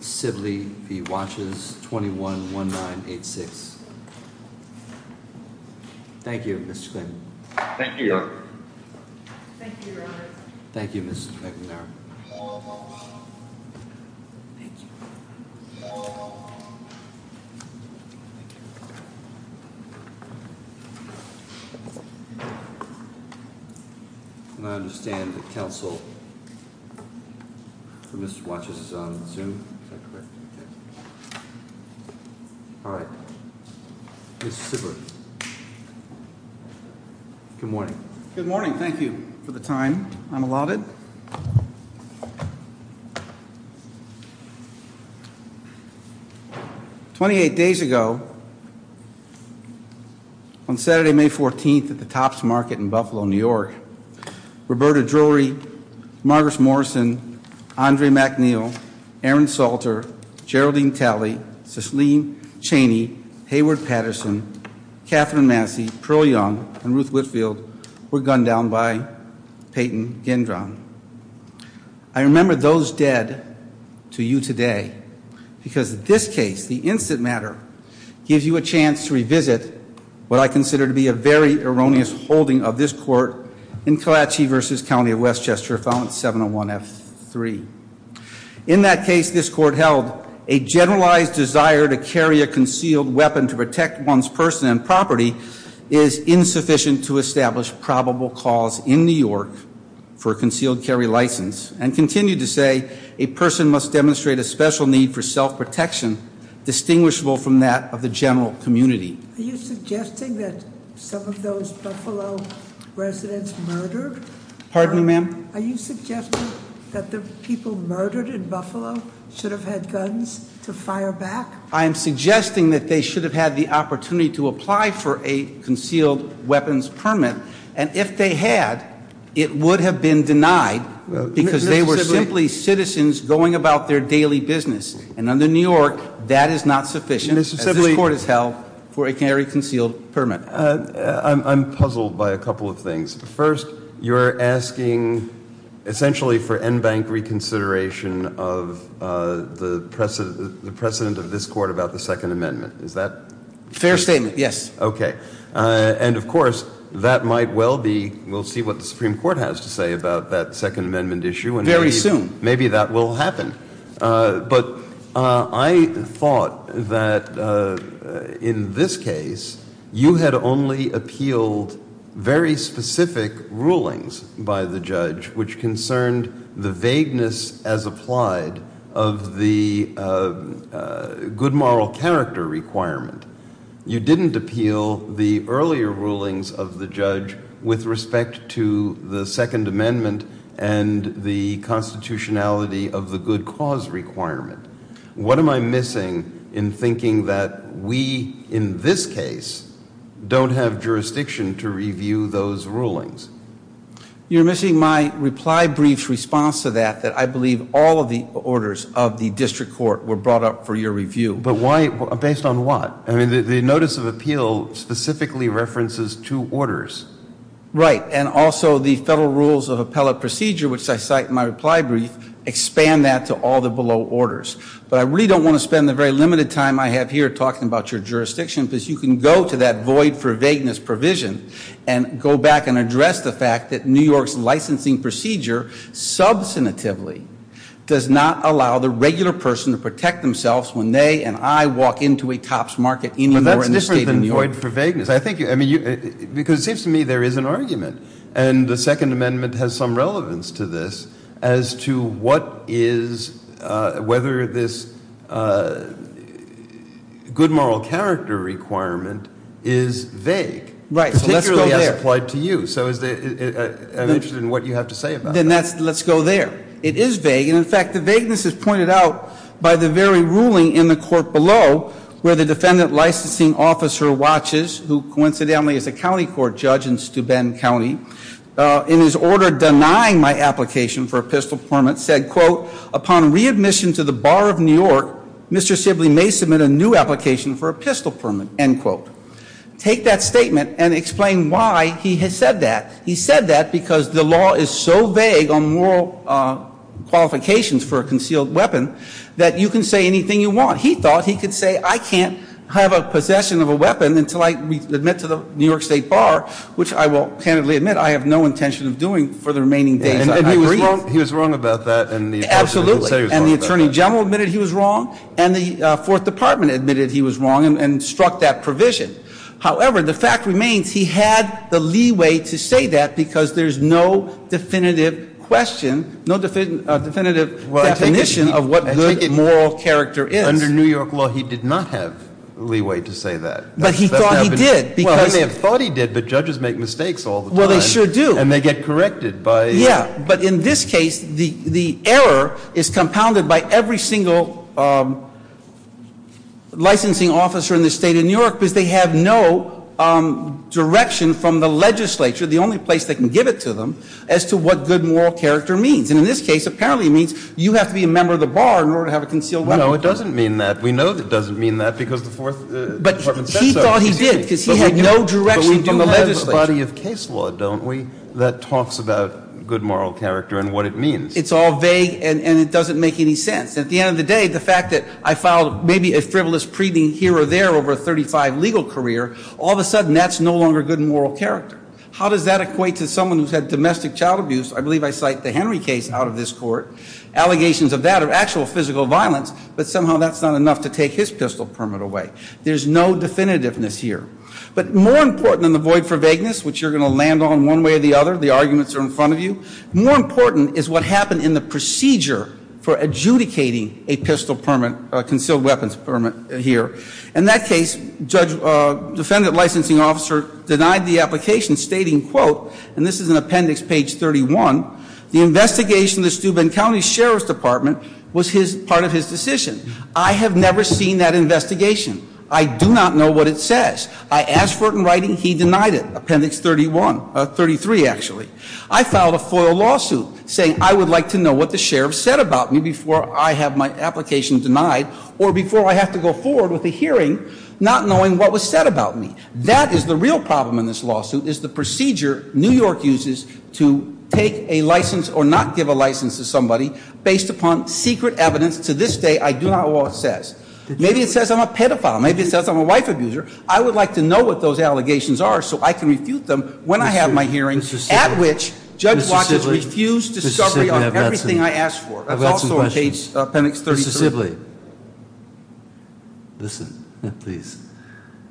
Sibley v. Watches, 21-1986 28 days ago, on Saturday, May 14th, at the Topps Market in Buffalo, New York, we were gunned down by Roberta Drury, Marguerite Morrison, Andre McNeil, Aaron Salter, Geraldine Talley, Cicelyne Chaney, Hayward Patterson, Catherine Massey, Pearl Young, and Ruth Whitfield were gunned down by Peyton Gendron. I remember those dead to you today because this case, the instant matter, gives you a chance to revisit what I consider to be a very erroneous holding of this court in Kalachi v. County of Westchester, Filement 701 F3. In that case, this court held a generalized desire to carry a concealed weapon to protect one's person and property is insufficient to establish probable cause in New York for a concealed carry license and continued to say a person must demonstrate a special need for self-protection distinguishable from that of the general community. Are you suggesting that some of those Buffalo residents murdered? Pardon me, ma'am? Are you suggesting that the people murdered in Buffalo should have had guns to fire back? I am suggesting that they should have had the opportunity to apply for a concealed weapons permit and if they had, it would have been denied because they were simply citizens going about their daily business and under New York that is not sufficient as this court has held for a carry concealed permit. I'm puzzled by a couple of things. First, you're asking essentially for NBank reconsideration of the precedent of this court about the Second Amendment. Is that? Fair statement, yes. And of course, that might well be, we'll see what the Supreme Court has to say about that Second Amendment issue. Very soon. Maybe that will happen. But I thought that in this case, you had only appealed very specific rulings by the judge which concerned the vagueness as applied of the good moral character requirement. You didn't appeal the earlier rulings of the judge with respect to the Second Amendment and the constitutionality of the good cause requirement. What am I missing in thinking that we in this case don't have jurisdiction to review those rulings? You're missing my reply brief's response to that that I believe all of the orders of the district court were brought up for your review. But why? Based on what? The notice of appeal specifically references two orders. Right. And also the federal rules of appellate procedure which I cite in my reply brief expand that to all the below orders. But I really don't want to spend the very limited time I have here talking about your jurisdiction because you can go to that I'm interested in what you have to say about that. It is vague and in fact the vagueness is pointed out by the very ruling in the court below where the defendant licensing officer watches who coincidentally is a county court judge in Steuben County in his order denying my application for a pistol permit said quote upon readmission to the bar of New York Mr. Sibley may submit a new application for a pistol permit end quote. Take that statement and explain why he has said that. He said that because the law is so vague on moral qualifications for a concealed weapon that you can say anything you want. He thought he could say I can't have a possession of a weapon until I admit to the New York State Bar which I will candidly admit I have no intention of doing for the remaining days. He was wrong about that and the attorney general admitted he was wrong. And the fourth department admitted he was wrong and struck that provision. However, the fact remains he had the leeway to say that because there's no definitive question, no definitive definition of what good moral character is. Under New York law he did not have leeway to say that. But he thought he did. Well they thought he did but judges make mistakes all the time. Well they sure do. And they get corrected by the attorney general. Yeah but in this case the error is compounded by every single licensing officer in the state of New York because they have no direction from the legislature, the only place they can give it to them, as to what good moral character means. And in this case apparently it means you have to be a member of the bar in order to have a concealed weapon. No it doesn't mean that. We know it doesn't mean that because the fourth department said so. He thought he did because he had no direction from the legislature. But we do have a body of case law, don't we, that talks about good moral character and what it means. It's all vague and it doesn't make any sense. At the end of the day the fact that I filed maybe a frivolous preening here or there over a 35 legal career, all of a sudden that's no longer good moral character. How does that equate to someone who's had domestic child abuse? I believe I cite the Henry case out of this court. Allegations of that are actual physical violence but somehow that's not enough to take his pistol permit away. There's no definitiveness here. But more important than the void for vagueness, which you're going to land on one way or the other, the arguments are in front of you, more important is what happened in the procedure for adjudicating a pistol permit, a concealed weapons permit here. In that case, judge, defendant licensing officer denied the application stating, quote, and this is in appendix page 31, the investigation of the Steuben County Sheriff's Department was part of his decision. I have never seen that investigation. I do not know what it says. I asked for it in writing, he denied it. Appendix 31, 33 actually. I filed a FOIA lawsuit saying I would like to know what the sheriff said about me before I have my application denied or before I have to go forward with a hearing not knowing what was said about me. That is the real problem in this lawsuit is the procedure New York uses to take a license or not give a license to somebody based upon secret evidence. To this day, I do not know what it says. Maybe it says I'm a pedophile. Maybe it says I'm a wife abuser. I would like to know what those allegations are so I can refute them when I have my hearing at which judge watches refused discovery on everything I asked for. That is also in appendix 33. Mr. Sibley, listen, please.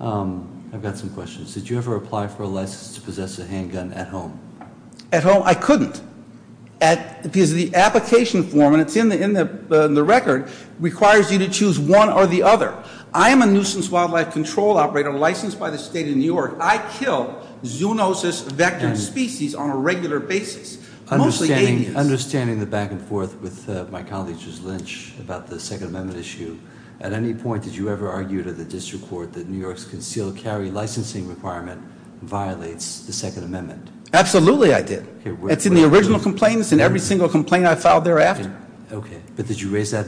I've got some questions. Did you ever apply for a license to possess a handgun at home? At home, I couldn't. Because the application form, and it is in the record, requires you to choose one or the other. I am a nuisance wildlife control operator licensed by the state of New York. I kill zoonosis vector species on a regular basis. Understanding the back and forth with my colleague, Ms. Lynch, about the Second Amendment issue, at any point did you ever argue to the district court that New York's concealed carry licensing requirement violates the Second Amendment? Absolutely I did. It's in the original complaints and every single complaint I filed thereafter. Okay. But did you raise that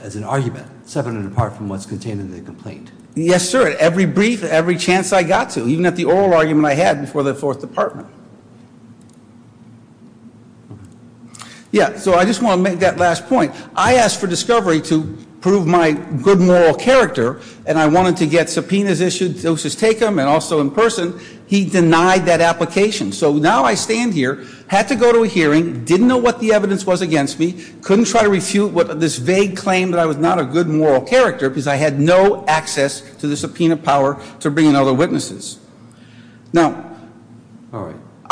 as an argument, separate and apart from what's contained in the complaint? Yes, sir. At every brief, every chance I got to. Even at the oral argument I had before the Fourth Department. Yeah, so I just want to make that last point. I asked for discovery to prove my good moral character and I wanted to get subpoenas issued, doses taken, and also in person. He denied that application. So now I stand here, had to go to a hearing, didn't know what the evidence was against me, couldn't try to refute this vague claim that I was not a good moral character because I had no access to the subpoena power to bring in other witnesses. Now,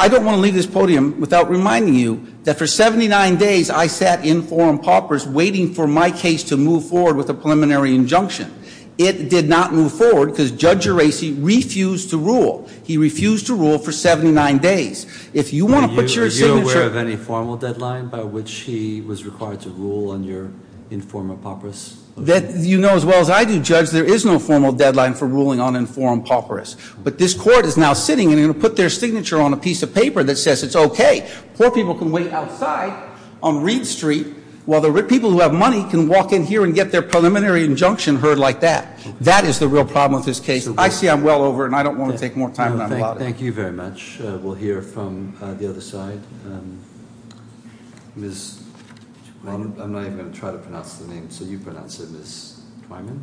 I don't want to leave this podium without reminding you that for 79 days I sat in forum paupers waiting for my case to move forward with a 79 days. If you want to put your signature... Are you aware of any formal deadline by which he was required to rule on your informal paupers? You know as well as I do, Judge, there is no formal deadline for ruling on informed paupers. But this court is now sitting and they're going to put their signature on a piece of paper that says it's okay. Poor people can wait outside on Reed Street while the people who have money can walk in here and get their preliminary injunction heard like that. That is the real problem with this case. I see I'm well over and I don't want to take more time than I'm allotted. Thank you very much. We'll hear from the other side. I'm not even going to try to pronounce the name. So you pronounce it, Ms. Twyman?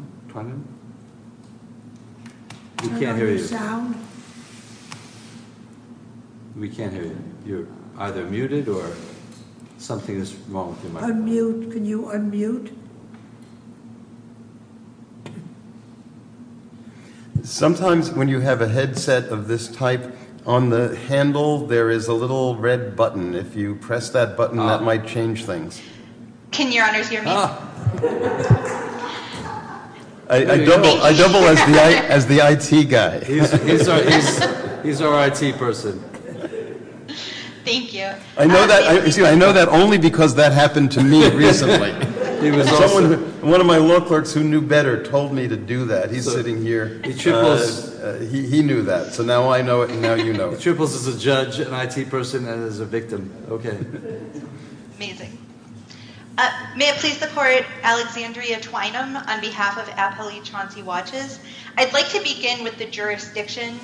We can't hear you. You're either muted or something is wrong. Unmute. Can you unmute? Sometimes when you have a headset of this type on the handle there is a little red button. If you press that button that might change things. Can your honors hear me? I double as the IT guy. He's our IT person. I know that only because that happened to me recently. One of my law clerks who knew better told me to do that. He's sitting here. He knew that. He triples as a judge, an IT person, and as a victim. May it please the court, Alexandria Twynum on behalf of Appellee Chauncey Watches. I'd like to begin with the jurisdiction,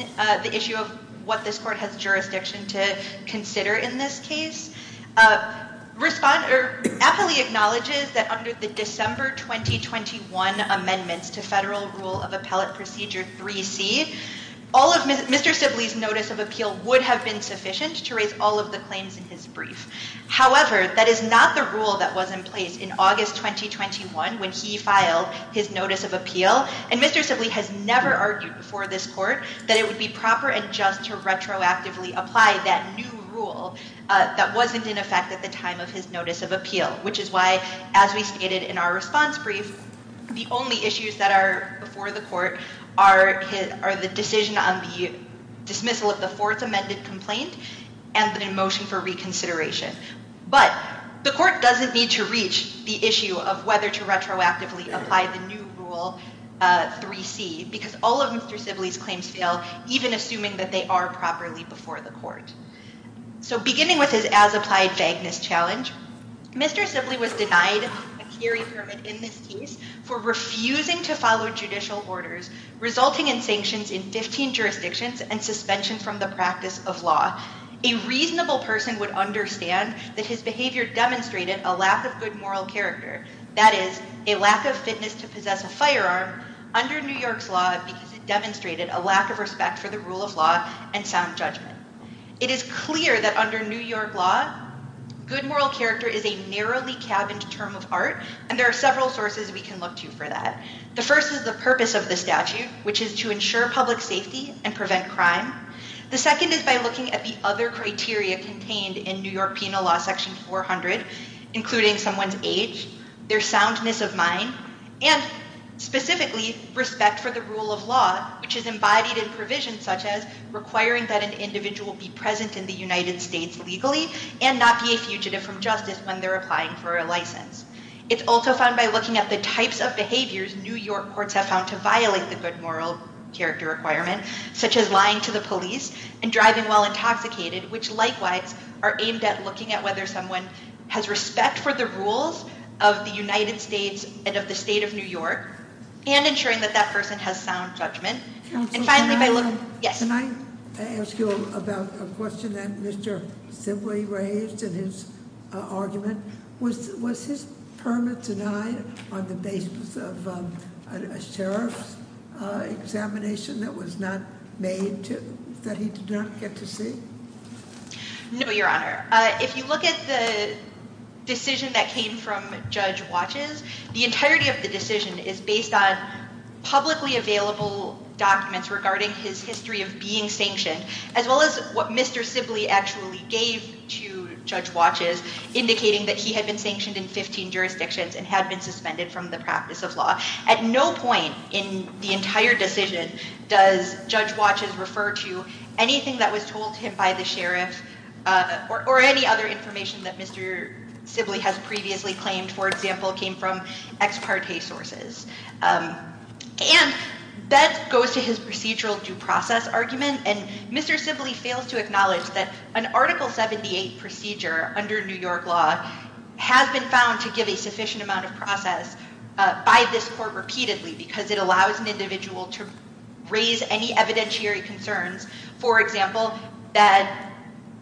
the issue of what this court has jurisdiction to consider in this case. Appellee acknowledges that under the December 2021 amendments to Federal Rule of Appellate Procedure 3C, Mr. Sibley's notice of appeal would have been sufficient to raise all of the claims in his brief. However, that is not the rule that was in place in August 2021 when he filed his notice of appeal. Mr. Sibley has never argued before this court that it would be proper and just to retroactively apply that new rule that wasn't in effect at the time of his notice of appeal. Which is why, as we stated in our response brief, the only issues that are before the court are the decision on the dismissal of the fourth amended complaint and the motion for reconsideration. But the court doesn't need to reach the issue of whether to retroactively apply the new Rule 3C because all of Mr. Sibley's claims fail, even assuming that they are true. If Mr. Sibley was denied a carry permit in this case for refusing to follow judicial orders resulting in sanctions in 15 jurisdictions and suspension from the practice of law, a reasonable person would understand that his behavior demonstrated a lack of good moral character. That is, a lack of fitness to possess a firearm under New York's law because it demonstrated a lack of respect for the rule of law and sound judgment. It is clear that under New York law, good moral character is a narrowly cabined term of art and there are several sources we can look to for that. The first is the purpose of the statute which is to ensure public safety and prevent crime. The second is by looking at the other criteria contained in New York Penal Law section 400, including someone's age, their soundness of mind, and specifically respect for the rule of law, which is embodied in provisions such as requiring that an individual be present in the United States legally and not be a fugitive from justice when they're applying for a license. It's also found by looking at the types of behaviors New York courts have found to violate the good moral character requirement, such as lying to the police and driving while intoxicated, which likewise are aimed at looking at whether someone has respect for the rules of the United States and of the state of New York and ensuring that that person has sound judgment. Can I ask you about a question that Mr. Simley raised in his argument? Was his permit denied on the basis of a sheriff's order that was not made that he did not get to see? No, Your Honor. If you look at the decision that came from Judge Watches, the entirety of the decision is based on publicly available documents regarding his history of being sanctioned, as well as what Mr. Simley actually gave to Judge Watches indicating that he had been sanctioned in 15 jurisdictions and had been suspended from the practice of law. At no point in the entire decision does Judge Watches refer to anything that was told to him by the sheriff or any other information that Mr. Simley has previously claimed, for example, came from ex parte sources. And that goes to his procedural due process argument. And Mr. Simley fails to acknowledge that an Article 78 procedure under New York law has been found to give a sufficient amount of process by this court repeatedly because it allows an individual to raise any evidentiary concerns, for example, that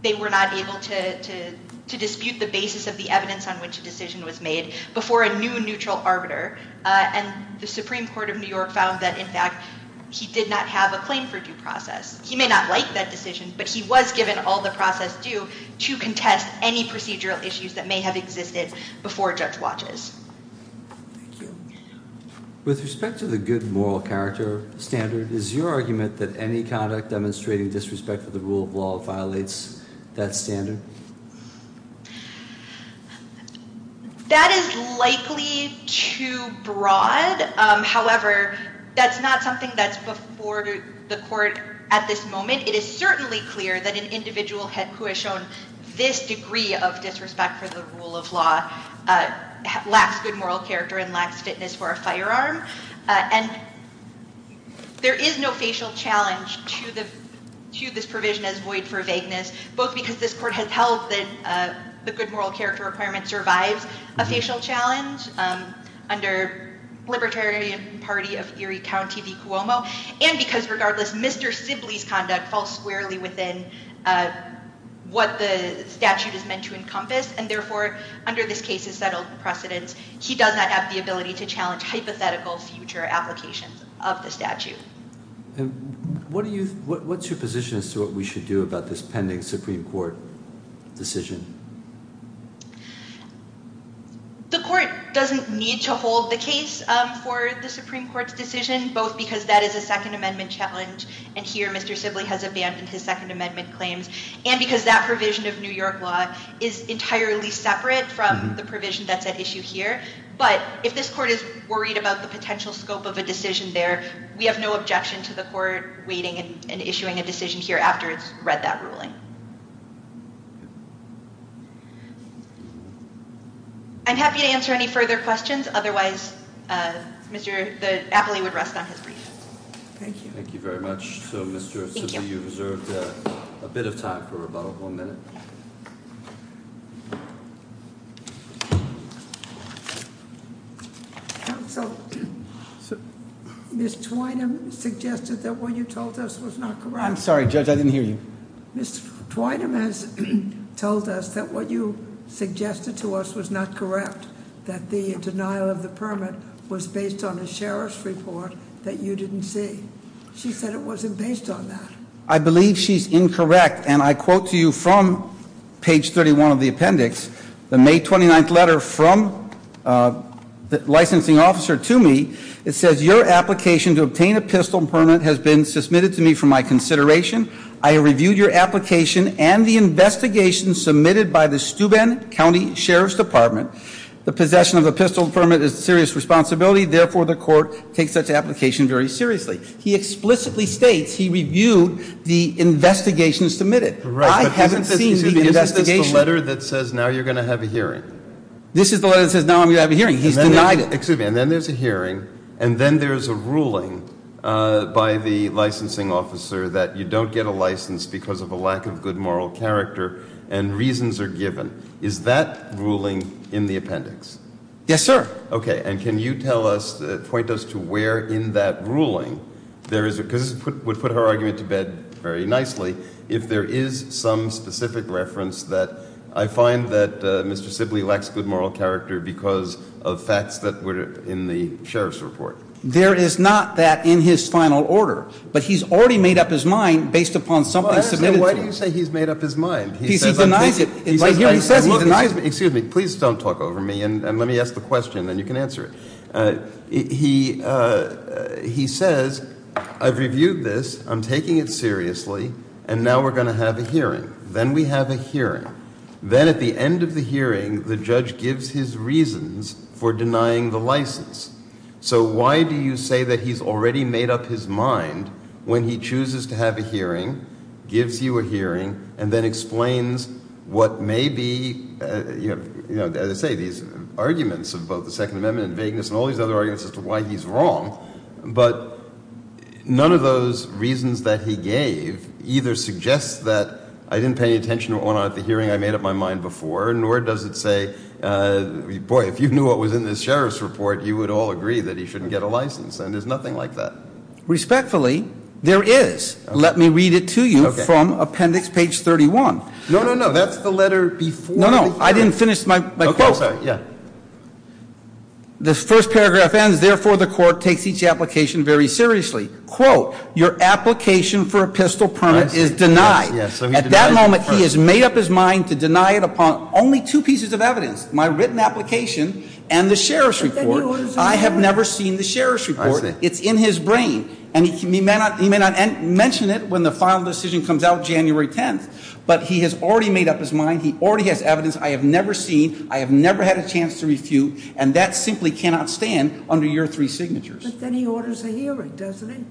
they were not able to dispute the basis of the evidence on which a decision was made before a new neutral arbiter. And the Supreme Court of New York found that, in fact, he did not have a claim for due process. He may not like that decision, but he was given all the process due to contest any procedural issues that may have existed before Judge Watches. Thank you. With respect to the good moral character standard, is your argument that any conduct demonstrating disrespect for the rule of law violates that standard? That is likely too broad. However, that's not something that's before the court at this moment. It is certainly clear that an individual who has shown this degree of disrespect for the rule of law lacks good moral character and lacks fitness for a firearm. And there is no facial challenge to this provision as void for vagueness, both because this court has held that the good moral character requirement survives a facial challenge under Libertarian Party of Erie County v. Cuomo, and because regardless, Mr. Sibley's conduct falls squarely within what the statute is meant to encompass. And therefore, under this case's settled precedence, he does not have the ability to challenge hypothetical future applications of the statute. And what's your position as to what we should do about this pending Supreme Court decision? The court doesn't need to hold the case for the Supreme Court's decision, both because that is a Second Amendment challenge and here Mr. Sibley has abandoned his Second Amendment claims, and because that provision of New York law is entirely separate from the provision that's at issue here. But if this court is worried about the potential scope of a decision there, we have no objection to the court waiting and issuing a decision here after it's read that ruling. I'm happy to answer any further questions. Otherwise, Mr. Apley would rest on his brief. Thank you very much. Mr. Sibley, you've reserved a bit of time for rebuttal. One minute. Counsel, Ms. Twynum suggested that what you told us was not correct. I'm sorry, Judge, I didn't hear you. Ms. Twynum has told us that what you suggested to us was not correct, that the denial of the permit was based on a sheriff's report that you didn't see. She said it wasn't based on that. I believe she's incorrect, and I quote to you from page 31 of the appendix, the May 29th letter from the licensing officer to me. It says, your application to obtain a pistol permit has been submitted to me for my consideration. I reviewed your application and the investigation submitted by the Steuben County Sheriff's Department. The possession of a pistol permit is a serious responsibility. Therefore, the court takes such an application very seriously. He explicitly states he reviewed the investigation submitted. I haven't seen the investigation. Isn't this the letter that says now you're going to have a hearing? This is the letter that says now I'm going to have a hearing. He's denied it. Excuse me. And then there's a hearing, and then there's a ruling by the licensing officer that you don't get a license because of a lack of good moral character and reasons are given. Is that ruling in the appendix? Yes, sir. Okay. And can you tell us, point us to where in that ruling there is, because this would put her argument to bed very nicely, if there is some specific reference that I find that Mr. Sibley lacks good moral character because of facts that were in the sheriff's report. There is not that in his final order, but he's already made up his mind based upon something submitted to him. Why do you say he's made up his mind? Because he denies it. Excuse me. Please don't talk over me, and let me ask the question, then you can answer it. He says, I've reviewed this, I'm taking it seriously, and now we're going to have a hearing. Then we have a hearing. Then at the end of the hearing, the judge gives his reasons for denying the license. So why do you say that he's already made up his mind when he chooses to have a hearing, gives you a hearing, and then explains what may be, you know, as I say, these arguments as to why he's wrong, but none of those reasons that he gave either suggest that I didn't pay any attention at the hearing I made up my mind before, nor does it say, boy, if you knew what was in this sheriff's report, you would all agree that he shouldn't get a license, and there's nothing like that. Respectfully, there is. Let me read it to you from appendix page 31. No, no, no. That's the letter before the hearing. No, no. I didn't finish my quote. The first paragraph ends, therefore the court takes each application very seriously. Quote, your application for a pistol permit is denied. At that moment, he has made up his mind to deny it upon only two pieces of evidence, my written application and the sheriff's report. I have never seen the sheriff's report. It's in his brain, and he may not mention it when the final decision comes out January 10th, but he has already made up his mind, he already has evidence I have never seen, I have never had a chance to refute, and that simply cannot stand under your three signatures. But then he orders a hearing, doesn't he?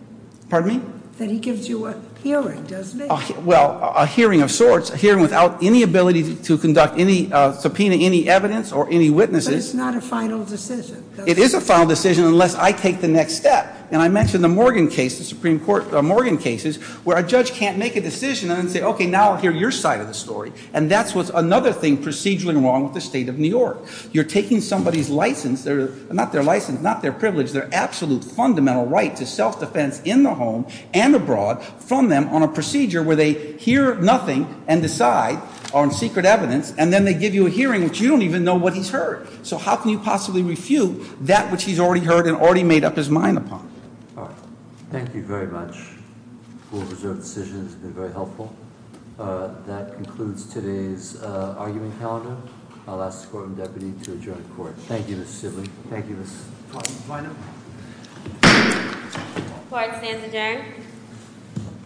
Pardon me? Then he gives you a hearing, doesn't he? Well, a hearing of sorts, a hearing without any ability to conduct any subpoena, any evidence or any witnesses. But it's not a final decision. It is a final decision unless I take the next step. And I mentioned the Morgan case, the Supreme Court Morgan cases, where a judge can't make a decision and then say, okay, now I'll hear your side of the story. And that's what's another thing procedurally wrong with the state of New York. You're taking somebody's license, not their license, not their privilege, their absolute fundamental right to self-defense in the home and abroad from them on a procedure where they hear nothing and decide on secret evidence, and then they give you a hearing which you don't even know what he's heard. So how can you possibly refute that which he's already heard and already made up his mind upon? All right. Thank you very much. Full reserve decision has been very helpful. That concludes today's arguing calendar. I'll ask the Courtroom Deputy to adjourn the Court. Thank you, Mr. Sibley. Thank you, Ms. Kleinert. The Court stands adjourned.